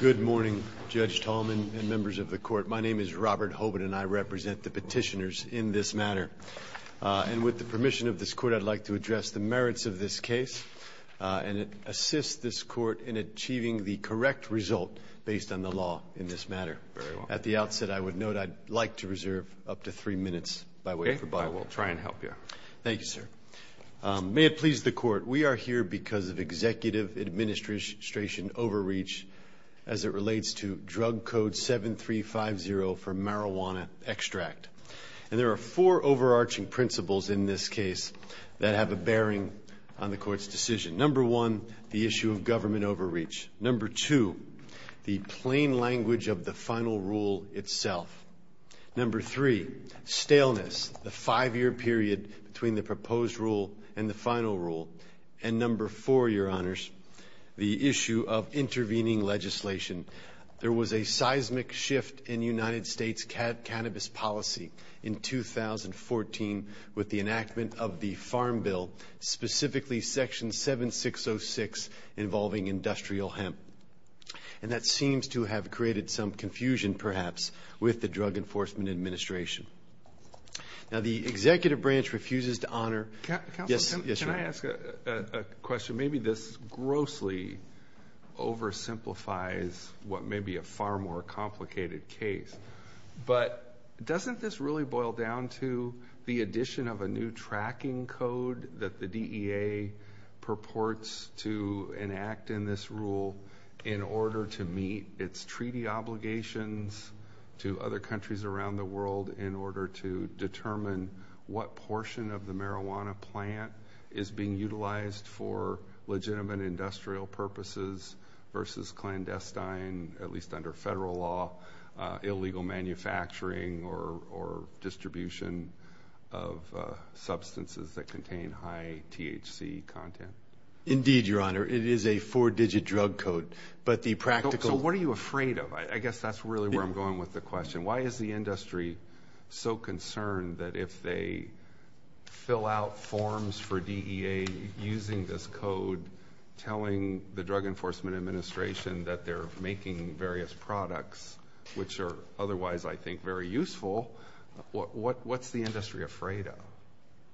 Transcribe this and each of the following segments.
Good morning, Judge Tallman and members of the Court. My name is Robert Hoban, and I represent the petitioners in this matter. And with the permission of this Court, I'd like to address the merits of this case and assist this Court in achieving the correct result based on the law in this matter. Very well. At the outset, I would note I'd like to reserve up to three minutes by way of rebuttal. Okay. I will try and help you. Thank you, sir. May it please the Court, we are here because of executive administration overreach as it relates to Drug Code 7350 for marijuana extract. And there are four overarching principles in this case that have a bearing on the Court's decision. Number one, the issue of government overreach. Number two, the plain language of the final rule itself. Number three, staleness, the five-year period between the proposed rule and the final rule. And number four, Your Honors, the issue of intervening legislation. There was a seismic shift in United States cannabis policy in 2014 with the enactment of the Farm Bill, specifically Section 7606 involving industrial hemp. And that seems to have created some confusion perhaps with the Drug Enforcement Administration. Now, the executive branch refuses to honor. Counsel, can I ask a question? Maybe this grossly oversimplifies what may be a far more complicated case. But doesn't this really boil down to the addition of a new tracking code that the DEA purports to enact in this rule in order to meet its treaty obligations to other countries around the world in order to determine what portion of the marijuana plant is being utilized for legitimate industrial purposes versus clandestine, at least under federal law, illegal manufacturing or distribution of substances that contain high THC content? Indeed, Your Honor. It is a four-digit drug code. So what are you afraid of? I guess that's really where I'm going with the question. Why is the industry so concerned that if they fill out forms for DEA using this code, telling the Drug Enforcement Administration that they're making various products, which are otherwise, I think, very useful, what's the industry afraid of?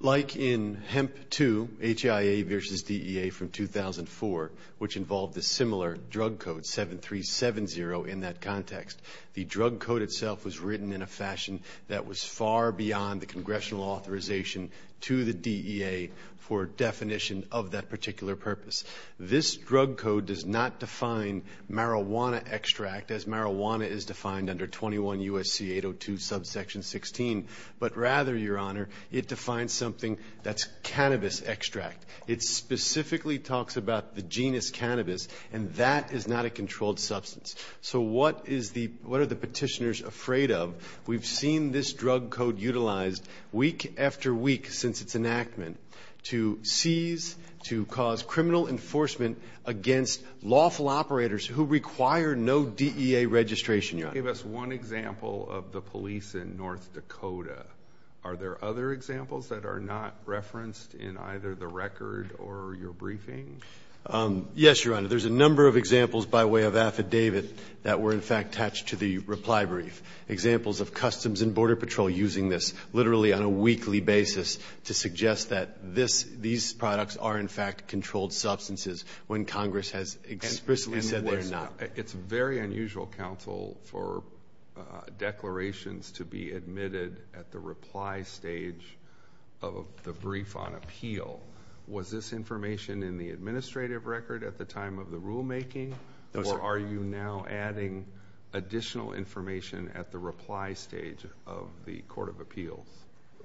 Like in Hemp 2, HIA versus DEA from 2004, which involved a similar drug code, 7370, in that context, the drug code itself was written in a fashion that was far beyond the congressional authorization to the DEA for definition of that particular purpose. This drug code does not define marijuana extract as marijuana is defined under 21 U.S.C. 802 subsection 16, but rather, Your Honor, it defines something that's cannabis extract. It specifically talks about the genus cannabis, and that is not a controlled substance. So what are the petitioners afraid of? We've seen this drug code utilized week after week since its enactment to seize, to cause criminal enforcement against lawful operators who require no DEA registration. Give us one example of the police in North Dakota. Are there other examples that are not referenced in either the record or your briefing? Yes, Your Honor. There's a number of examples by way of affidavit that were, in fact, attached to the reply brief. Examples of Customs and Border Patrol using this literally on a weekly basis to suggest that these products are, in fact, controlled substances when Congress has explicitly said they're not. It's very unusual, counsel, for declarations to be admitted at the reply stage of the brief on appeal. Was this information in the administrative record at the time of the rulemaking? No, sir. Are you now adding additional information at the reply stage of the court of appeals?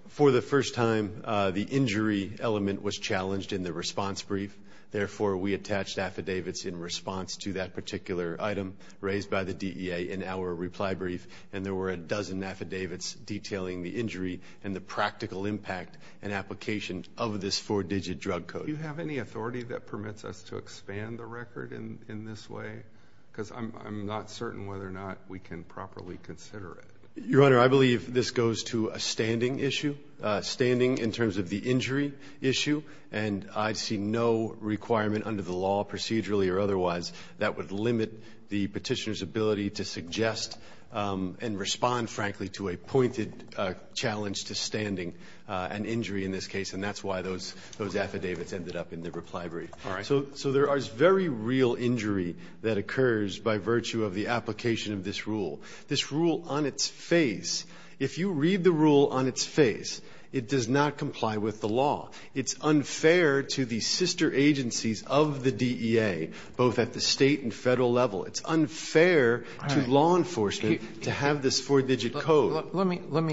For the first time, the injury element was challenged in the response brief. Therefore, we attached affidavits in response to that particular item raised by the DEA in our reply brief, and there were a dozen affidavits detailing the injury and the practical impact and application of this four-digit drug code. Do you have any authority that permits us to expand the record in this way? Because I'm not certain whether or not we can properly consider it. Your Honor, I believe this goes to a standing issue, standing in terms of the injury issue, and I see no requirement under the law, procedurally or otherwise, that would limit the Petitioner's ability to suggest and respond, frankly, to a pointed challenge to standing an injury in this case. And that's why those affidavits ended up in the reply brief. All right. So there is very real injury that occurs by virtue of the application of this rule. This rule on its face, if you read the rule on its face, it does not comply with the law. It's unfair to the sister agencies of the DEA, both at the State and Federal level. It's unfair to law enforcement to have this four-digit code. Let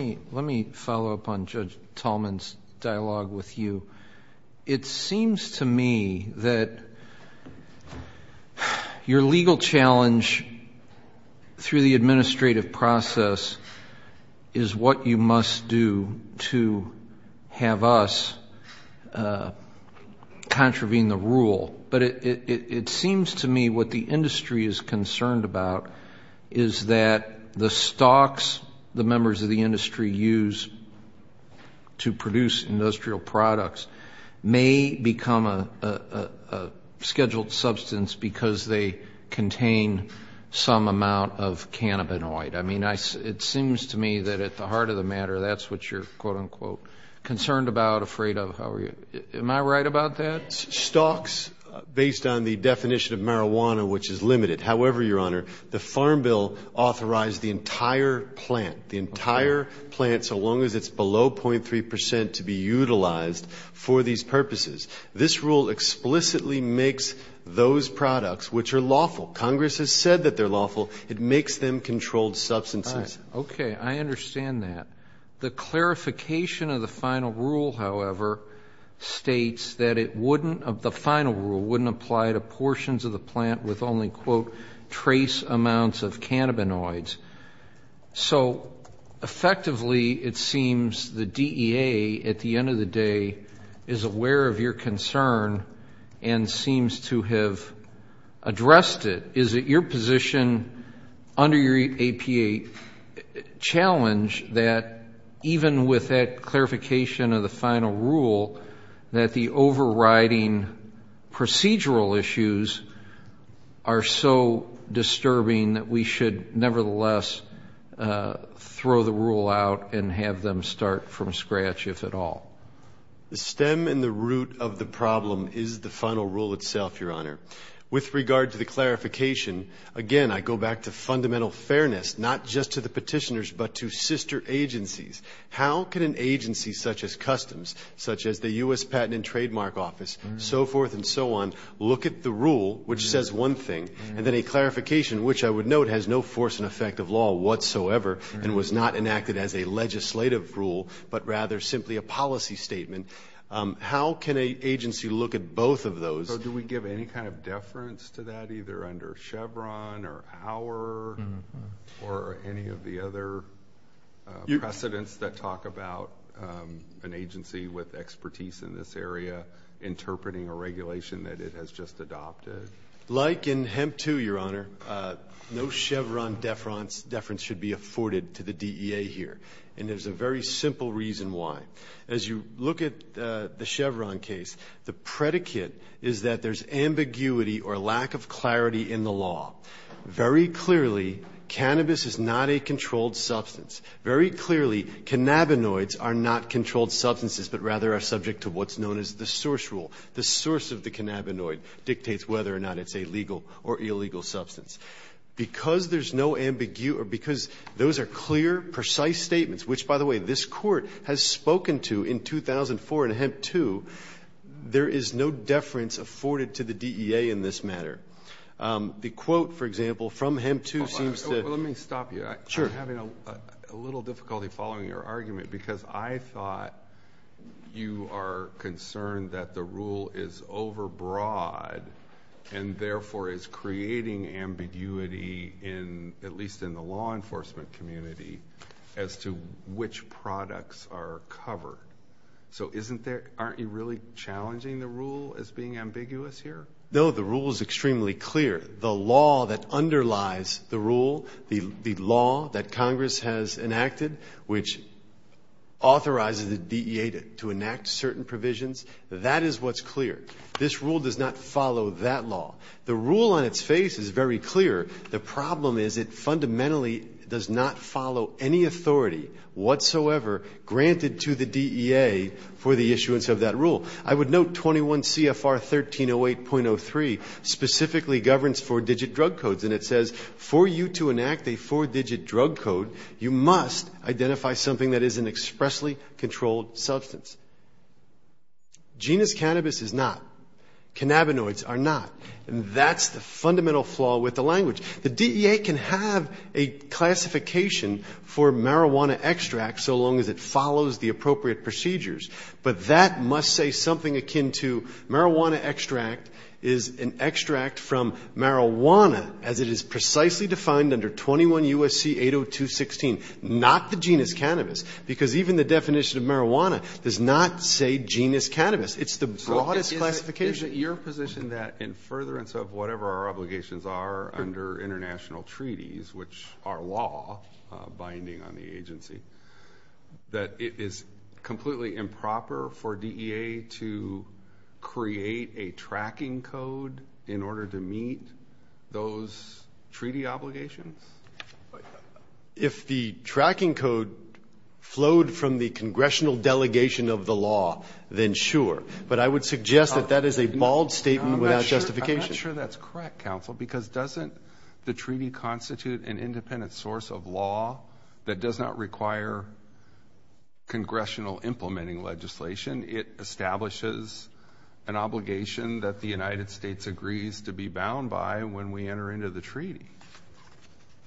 me follow up on Judge Tallman's dialogue with you. It seems to me that your legal challenge through the administrative process is what you must do to have us contravene the rule. But it seems to me what the industry is concerned about is that the stocks, the members of the industry use to produce industrial products, may become a scheduled substance because they contain some amount of cannabinoid. I mean, it seems to me that at the heart of the matter, that's what you're, quote, unquote, concerned about, afraid of. Am I right about that? Stocks, based on the definition of marijuana, which is limited. However, Your Honor, the Farm Bill authorized the entire plant, the entire plant, so long as it's below .3 percent to be utilized for these purposes. This rule explicitly makes those products, which are lawful, Congress has said that they're lawful, it makes them controlled substances. All right. Okay. I understand that. The clarification of the final rule, however, states that it wouldn't, the final rule wouldn't apply to portions of the plant with only, quote, trace amounts of cannabinoids. So, effectively, it seems the DEA, at the end of the day, is aware of your concern and seems to have addressed it. Is it your position under your APA challenge that even with that clarification of the final rule, that the overriding procedural issues are so disturbing that we should, nevertheless, throw the rule out and have them start from scratch, if at all? The stem and the root of the problem is the final rule itself, Your Honor. With regard to the clarification, again, I go back to fundamental fairness, not just to the petitioners but to sister agencies. How can an agency such as Customs, such as the U.S. Patent and Trademark Office, so forth and so on, look at the rule, which says one thing, and then a clarification, which I would note has no force and effect of law whatsoever and was not enacted as a legislative rule but rather simply a policy statement, So do we give any kind of deference to that, either under Chevron or our or any of the other precedents that talk about an agency with expertise in this area interpreting a regulation that it has just adopted? Like in Hemp 2, Your Honor, no Chevron deference should be afforded to the DEA here. And there's a very simple reason why. As you look at the Chevron case, the predicate is that there's ambiguity or lack of clarity in the law. Very clearly, cannabis is not a controlled substance. Very clearly, cannabinoids are not controlled substances but rather are subject to what's known as the source rule. The source of the cannabinoid dictates whether or not it's a legal or illegal substance. Because there's no ambiguity or because those are clear, precise statements, which, by the way, this Court has spoken to in 2004 in Hemp 2. There is no deference afforded to the DEA in this matter. The quote, for example, from Hemp 2 seems to be. Alito, let me stop you. Sure. I'm having a little difficulty following your argument because I thought you are concerned that the rule is overbroad and therefore is creating ambiguity in, at least in the law enforcement community, as to which products are covered. So isn't there, aren't you really challenging the rule as being ambiguous here? No, the rule is extremely clear. The law that underlies the rule, the law that Congress has enacted, which authorizes the DEA to enact certain provisions, that is what's clear. This rule does not follow that law. The rule on its face is very clear. The problem is it fundamentally does not follow any authority whatsoever granted to the DEA for the issuance of that rule. I would note 21 CFR 1308.03 specifically governs four-digit drug codes. And it says, for you to enact a four-digit drug code, you must identify something that is an expressly controlled substance. Genus cannabis is not. Cannabinoids are not. And that's the fundamental flaw with the language. The DEA can have a classification for marijuana extract so long as it follows the appropriate procedures. But that must say something akin to marijuana extract is an extract from marijuana, as it is precisely defined under 21 U.S.C. 80216, not the genus cannabis, because even the definition of marijuana does not say genus cannabis. It's the broadest classification. So is it your position that in furtherance of whatever our obligations are under international treaties, which are law binding on the agency, that it is completely improper for DEA to create a tracking code in order to meet those treaty obligations? If the tracking code flowed from the congressional delegation of the law, then sure. But I would suggest that that is a bald statement without justification. I'm not sure that's correct, counsel, because doesn't the treaty constitute an independent source of law that does not require congressional implementing legislation? It establishes an obligation that the United States agrees to be bound by when we enter into the treaty.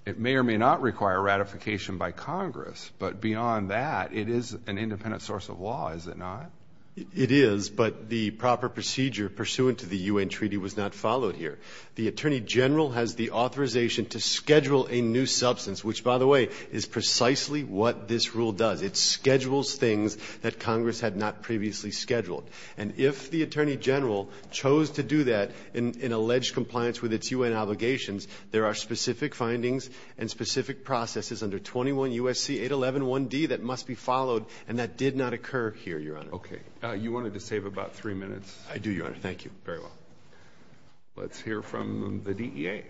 It may or may not require ratification by Congress. But beyond that, it is an independent source of law, is it not? It is. But the proper procedure pursuant to the U.N. treaty was not followed here. The Attorney General has the authorization to schedule a new substance, which, by the way, is precisely what this rule does. It schedules things that Congress had not previously scheduled. And if the Attorney General chose to do that in alleged compliance with its U.N. obligations, there are specific findings and specific processes under 21 U.S.C. 8111D that must be followed, and that did not occur here, Your Honor. Okay. You wanted to save about three minutes. I do, Your Honor. Thank you. Very well. Let's hear from the DEA.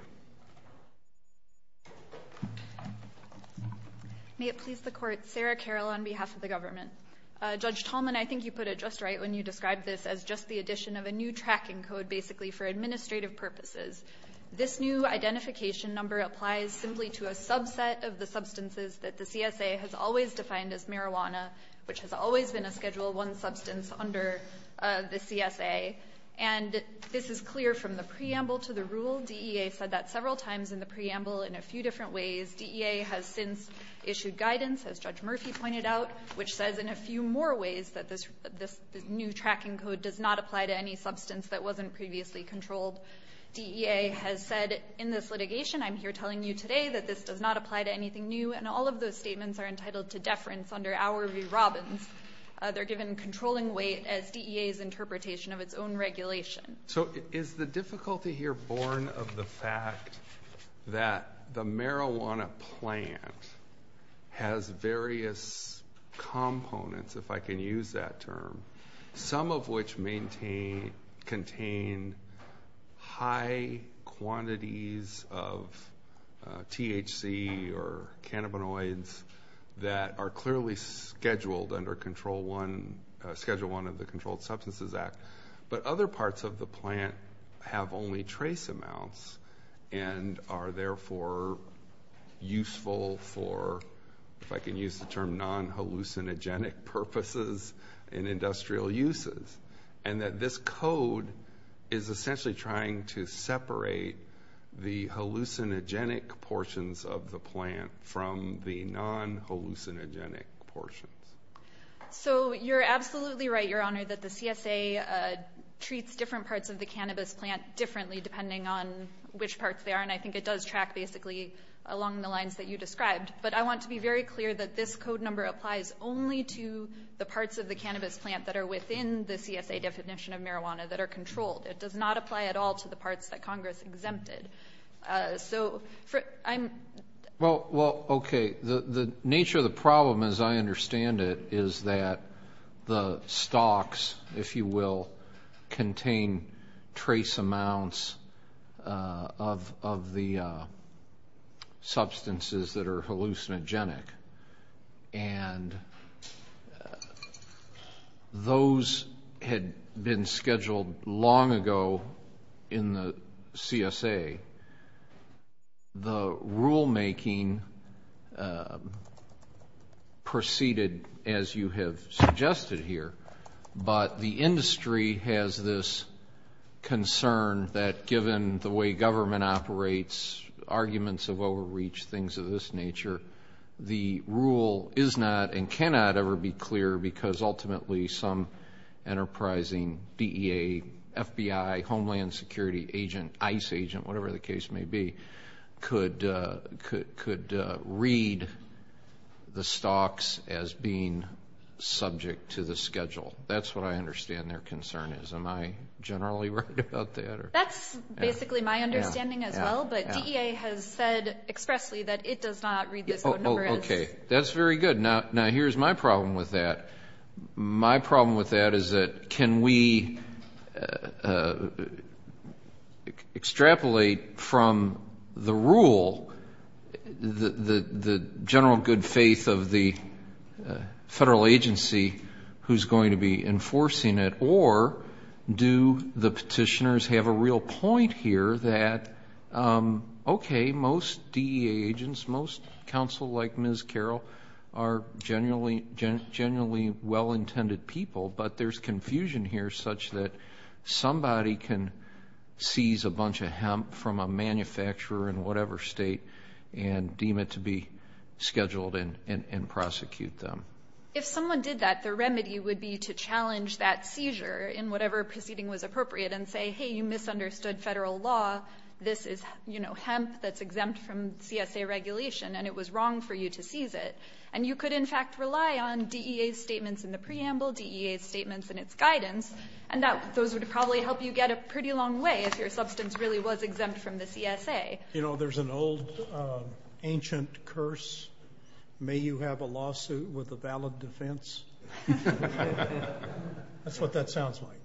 May it please the Court. Sarah Carroll on behalf of the government. Judge Tallman, I think you put it just right when you described this as just the addition of a new tracking code basically for administrative purposes. This new identification number applies simply to a subset of the substances that the CSA has always defined as marijuana, which has always been a Schedule I substance under the CSA. And this is clear from the preamble to the rule. DEA said that several times in the preamble in a few different ways. DEA has since issued guidance, as Judge Murphy pointed out, which says in a few more ways that this new tracking code does not apply to any substance that wasn't previously controlled. DEA has said in this litigation, I'm here telling you today, that this does not apply to anything new. And all of those statements are entitled to deference under our review robins. They're given controlling weight as DEA's interpretation of its own regulation. So is the difficulty here born of the fact that the marijuana plant has various components, if I can use that term, some of which contain high quantities of THC or cannabinoids that are clearly scheduled under Schedule I of the Controlled Substances Act, but other parts of the plant have only trace amounts and are therefore useful for, if I can use the term correctly, non-hallucinogenic purposes and industrial uses, and that this code is essentially trying to separate the hallucinogenic portions of the plant from the non-hallucinogenic portions? So you're absolutely right, Your Honor, that the CSA treats different parts of the cannabis plant differently depending on which parts they are, and I think it does track basically along the lines that you described. But I want to be very clear that this code number applies only to the parts of the cannabis plant that are within the CSA definition of marijuana that are controlled. It does not apply at all to the parts that Congress exempted. So I'm – Well, okay, the nature of the problem as I understand it is that the stocks, if you will, contain trace amounts of the substances that are hallucinogenic, and those had been scheduled long ago in the CSA. The rulemaking proceeded as you have suggested here, but the industry has this concern that given the way government operates, arguments of overreach, things of this nature, the rule is not and cannot ever be clear because ultimately some enterprising DEA, FBI, Homeland Security agent, ICE agent, whatever the case may be, could read the stocks as being subject to the schedule. That's what I understand their concern is. Am I generally right about that? That's basically my understanding as well, but DEA has said expressly that it does not read this code number as – Okay, that's very good. Now here's my problem with that. My problem with that is that can we extrapolate from the rule the general good faith of the federal agency who's going to be enforcing it, or do the petitioners have a real point here that, okay, most DEA agents, most counsel like Ms. Carroll are generally well-intended people, but there's confusion here such that somebody can seize a bunch of hemp from a manufacturer in whatever state and deem it to be scheduled and prosecute them. If someone did that, the remedy would be to challenge that seizure in whatever proceeding was appropriate and say, hey, you misunderstood federal law. This is hemp that's exempt from CSA regulation, and it was wrong for you to seize it. And you could, in fact, rely on DEA's statements in the preamble, DEA's statements in its guidance, and those would probably help you get a pretty long way if your substance really was exempt from the CSA. You know, there's an old ancient curse, may you have a lawsuit with a valid defense. That's what that sounds like.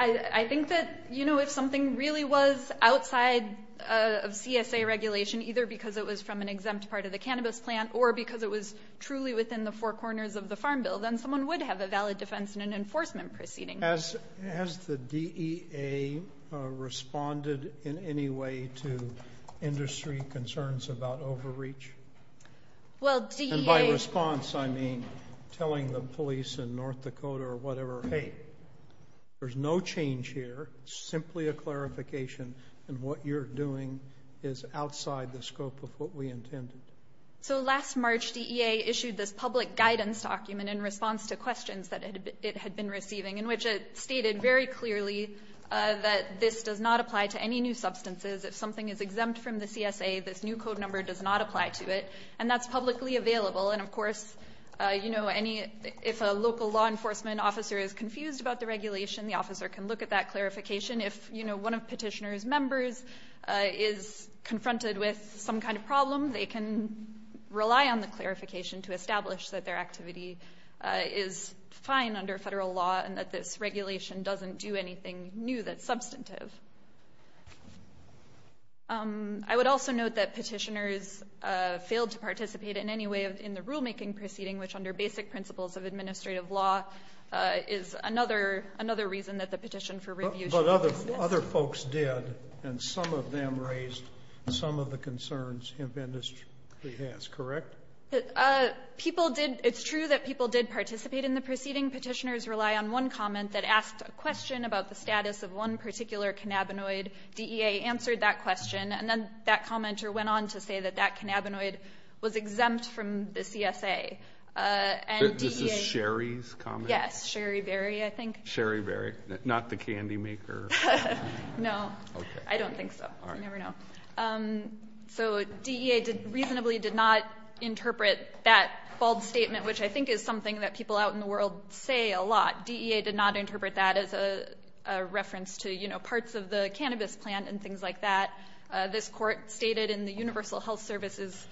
I think that, you know, if something really was outside of CSA regulation, either because it was from an exempt part of the cannabis plant or because it was truly within the four corners of the farm bill, then someone would have a valid defense in an enforcement proceeding. Has the DEA responded in any way to industry concerns about overreach? Well, DEA And by response, I mean telling the police in North Dakota or whatever, hey, there's no change here, simply a clarification, and what you're doing is outside the scope of what we intended. So last March, DEA issued this public guidance document in response to questions that it had been receiving in which it stated very clearly that this does not apply to any new substances. If something is exempt from the CSA, this new code number does not apply to it, and that's publicly available. And, of course, you know, if a local law enforcement officer is confused about the regulation, the officer can look at that clarification. If, you know, one of petitioner's members is confronted with some kind of problem, they can rely on the clarification to establish that their activity is fine under federal law and that this regulation doesn't do anything new that's substantive. I would also note that petitioners failed to participate in any way in the rulemaking proceeding, which under basic principles of administrative law is another reason that the petition for review should exist. But other folks did, and some of them raised some of the concerns if industry has, correct? People did It's true that people did participate in the proceeding. petitioners rely on one comment that asked a question about the status of one particular cannabinoid, DEA answered that question, and then that commenter went on to say that that cannabinoid was exempt from the CSA, and DEA This is Sherry's comment? Yes. Sherry Berry, I think. Sherry Berry. Not the candy maker? No. Okay. I don't think so. All right. You never know. So DEA reasonably did not interpret that bold statement, which I think is something that people out in the world say a lot. DEA did not interpret that as a reference to, you know, parts of the cannabis plant and things like that. This Court stated in the Universal Health Services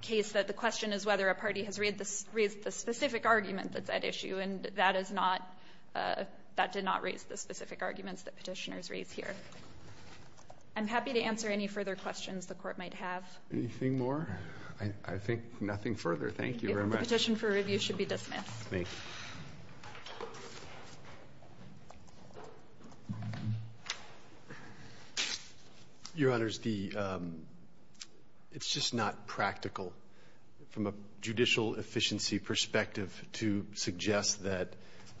case that the question is whether a party has raised the specific argument that's at issue, and that is not, that did not raise the specific arguments that petitioners raised here. I'm happy to answer any further questions the Court might have. Anything more? I think nothing further. Thank you very much. The petition for review should be dismissed. Thank you. Your Honors, the It's just not practical from a judicial efficiency perspective to suggest that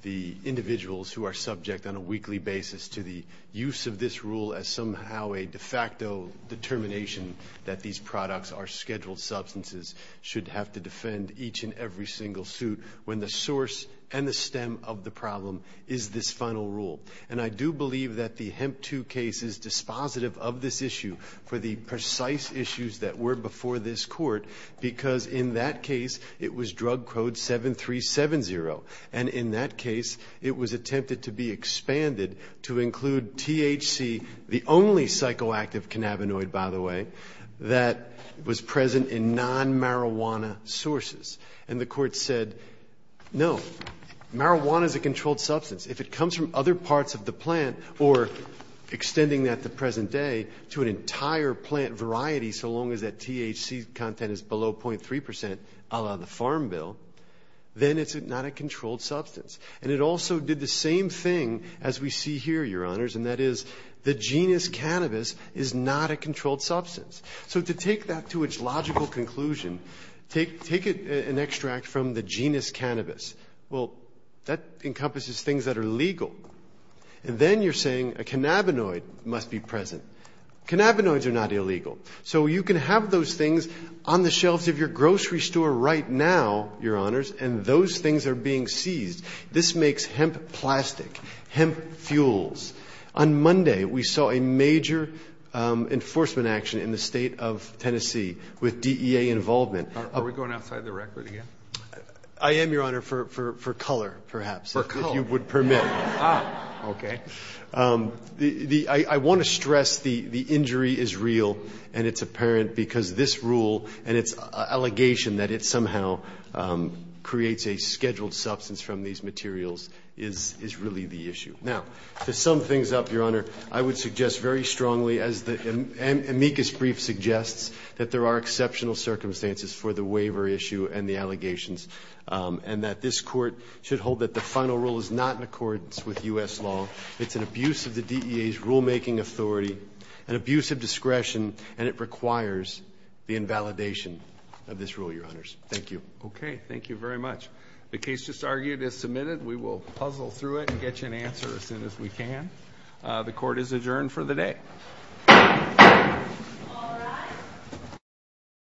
the individuals who are subject on a weekly basis to the use of this rule as somehow a de facto determination that these products are scheduled substances should have to defend each and every single suit when the source and the stem of the problem is this final rule. And I do believe that the Hemp 2 case is dispositive of this issue for the precise issues that were before this Court, because in that case, it was drug code 7370. And in that case, it was attempted to be expanded to include THC, the only non-marijuana sources. And the Court said, no, marijuana is a controlled substance. If it comes from other parts of the plant or extending that to present day to an entire plant variety so long as that THC content is below 0.3 percent, a la the Farm Bill, then it's not a controlled substance. And it also did the same thing as we see here, Your Honors, and that is the genus cannabis is not a controlled substance. So to take that to its logical conclusion, take an extract from the genus cannabis. Well, that encompasses things that are legal. And then you're saying a cannabinoid must be present. Cannabinoids are not illegal. So you can have those things on the shelves of your grocery store right now, Your Honors, and those things are being seized. This makes hemp plastic, hemp fuels. On Monday, we saw a major enforcement action in the State of Tennessee with DEA involvement. Are we going outside the record again? I am, Your Honor, for color, perhaps, if you would permit. Ah, okay. I want to stress the injury is real and it's apparent because this rule and its allegation that it somehow creates a scheduled substance from these materials is really the issue. Now, to sum things up, Your Honor, I would suggest very strongly, as the amicus brief suggests, that there are exceptional circumstances for the waiver issue and the allegations, and that this Court should hold that the final rule is not in accordance with U.S. law. It's an abuse of the DEA's rulemaking authority, an abuse of discretion, and it requires the invalidation of this rule, Your Honors. Thank you. Okay. Thank you very much. The case just argued is submitted. We will puzzle through it and get you an answer as soon as we can. The Court is adjourned for the day.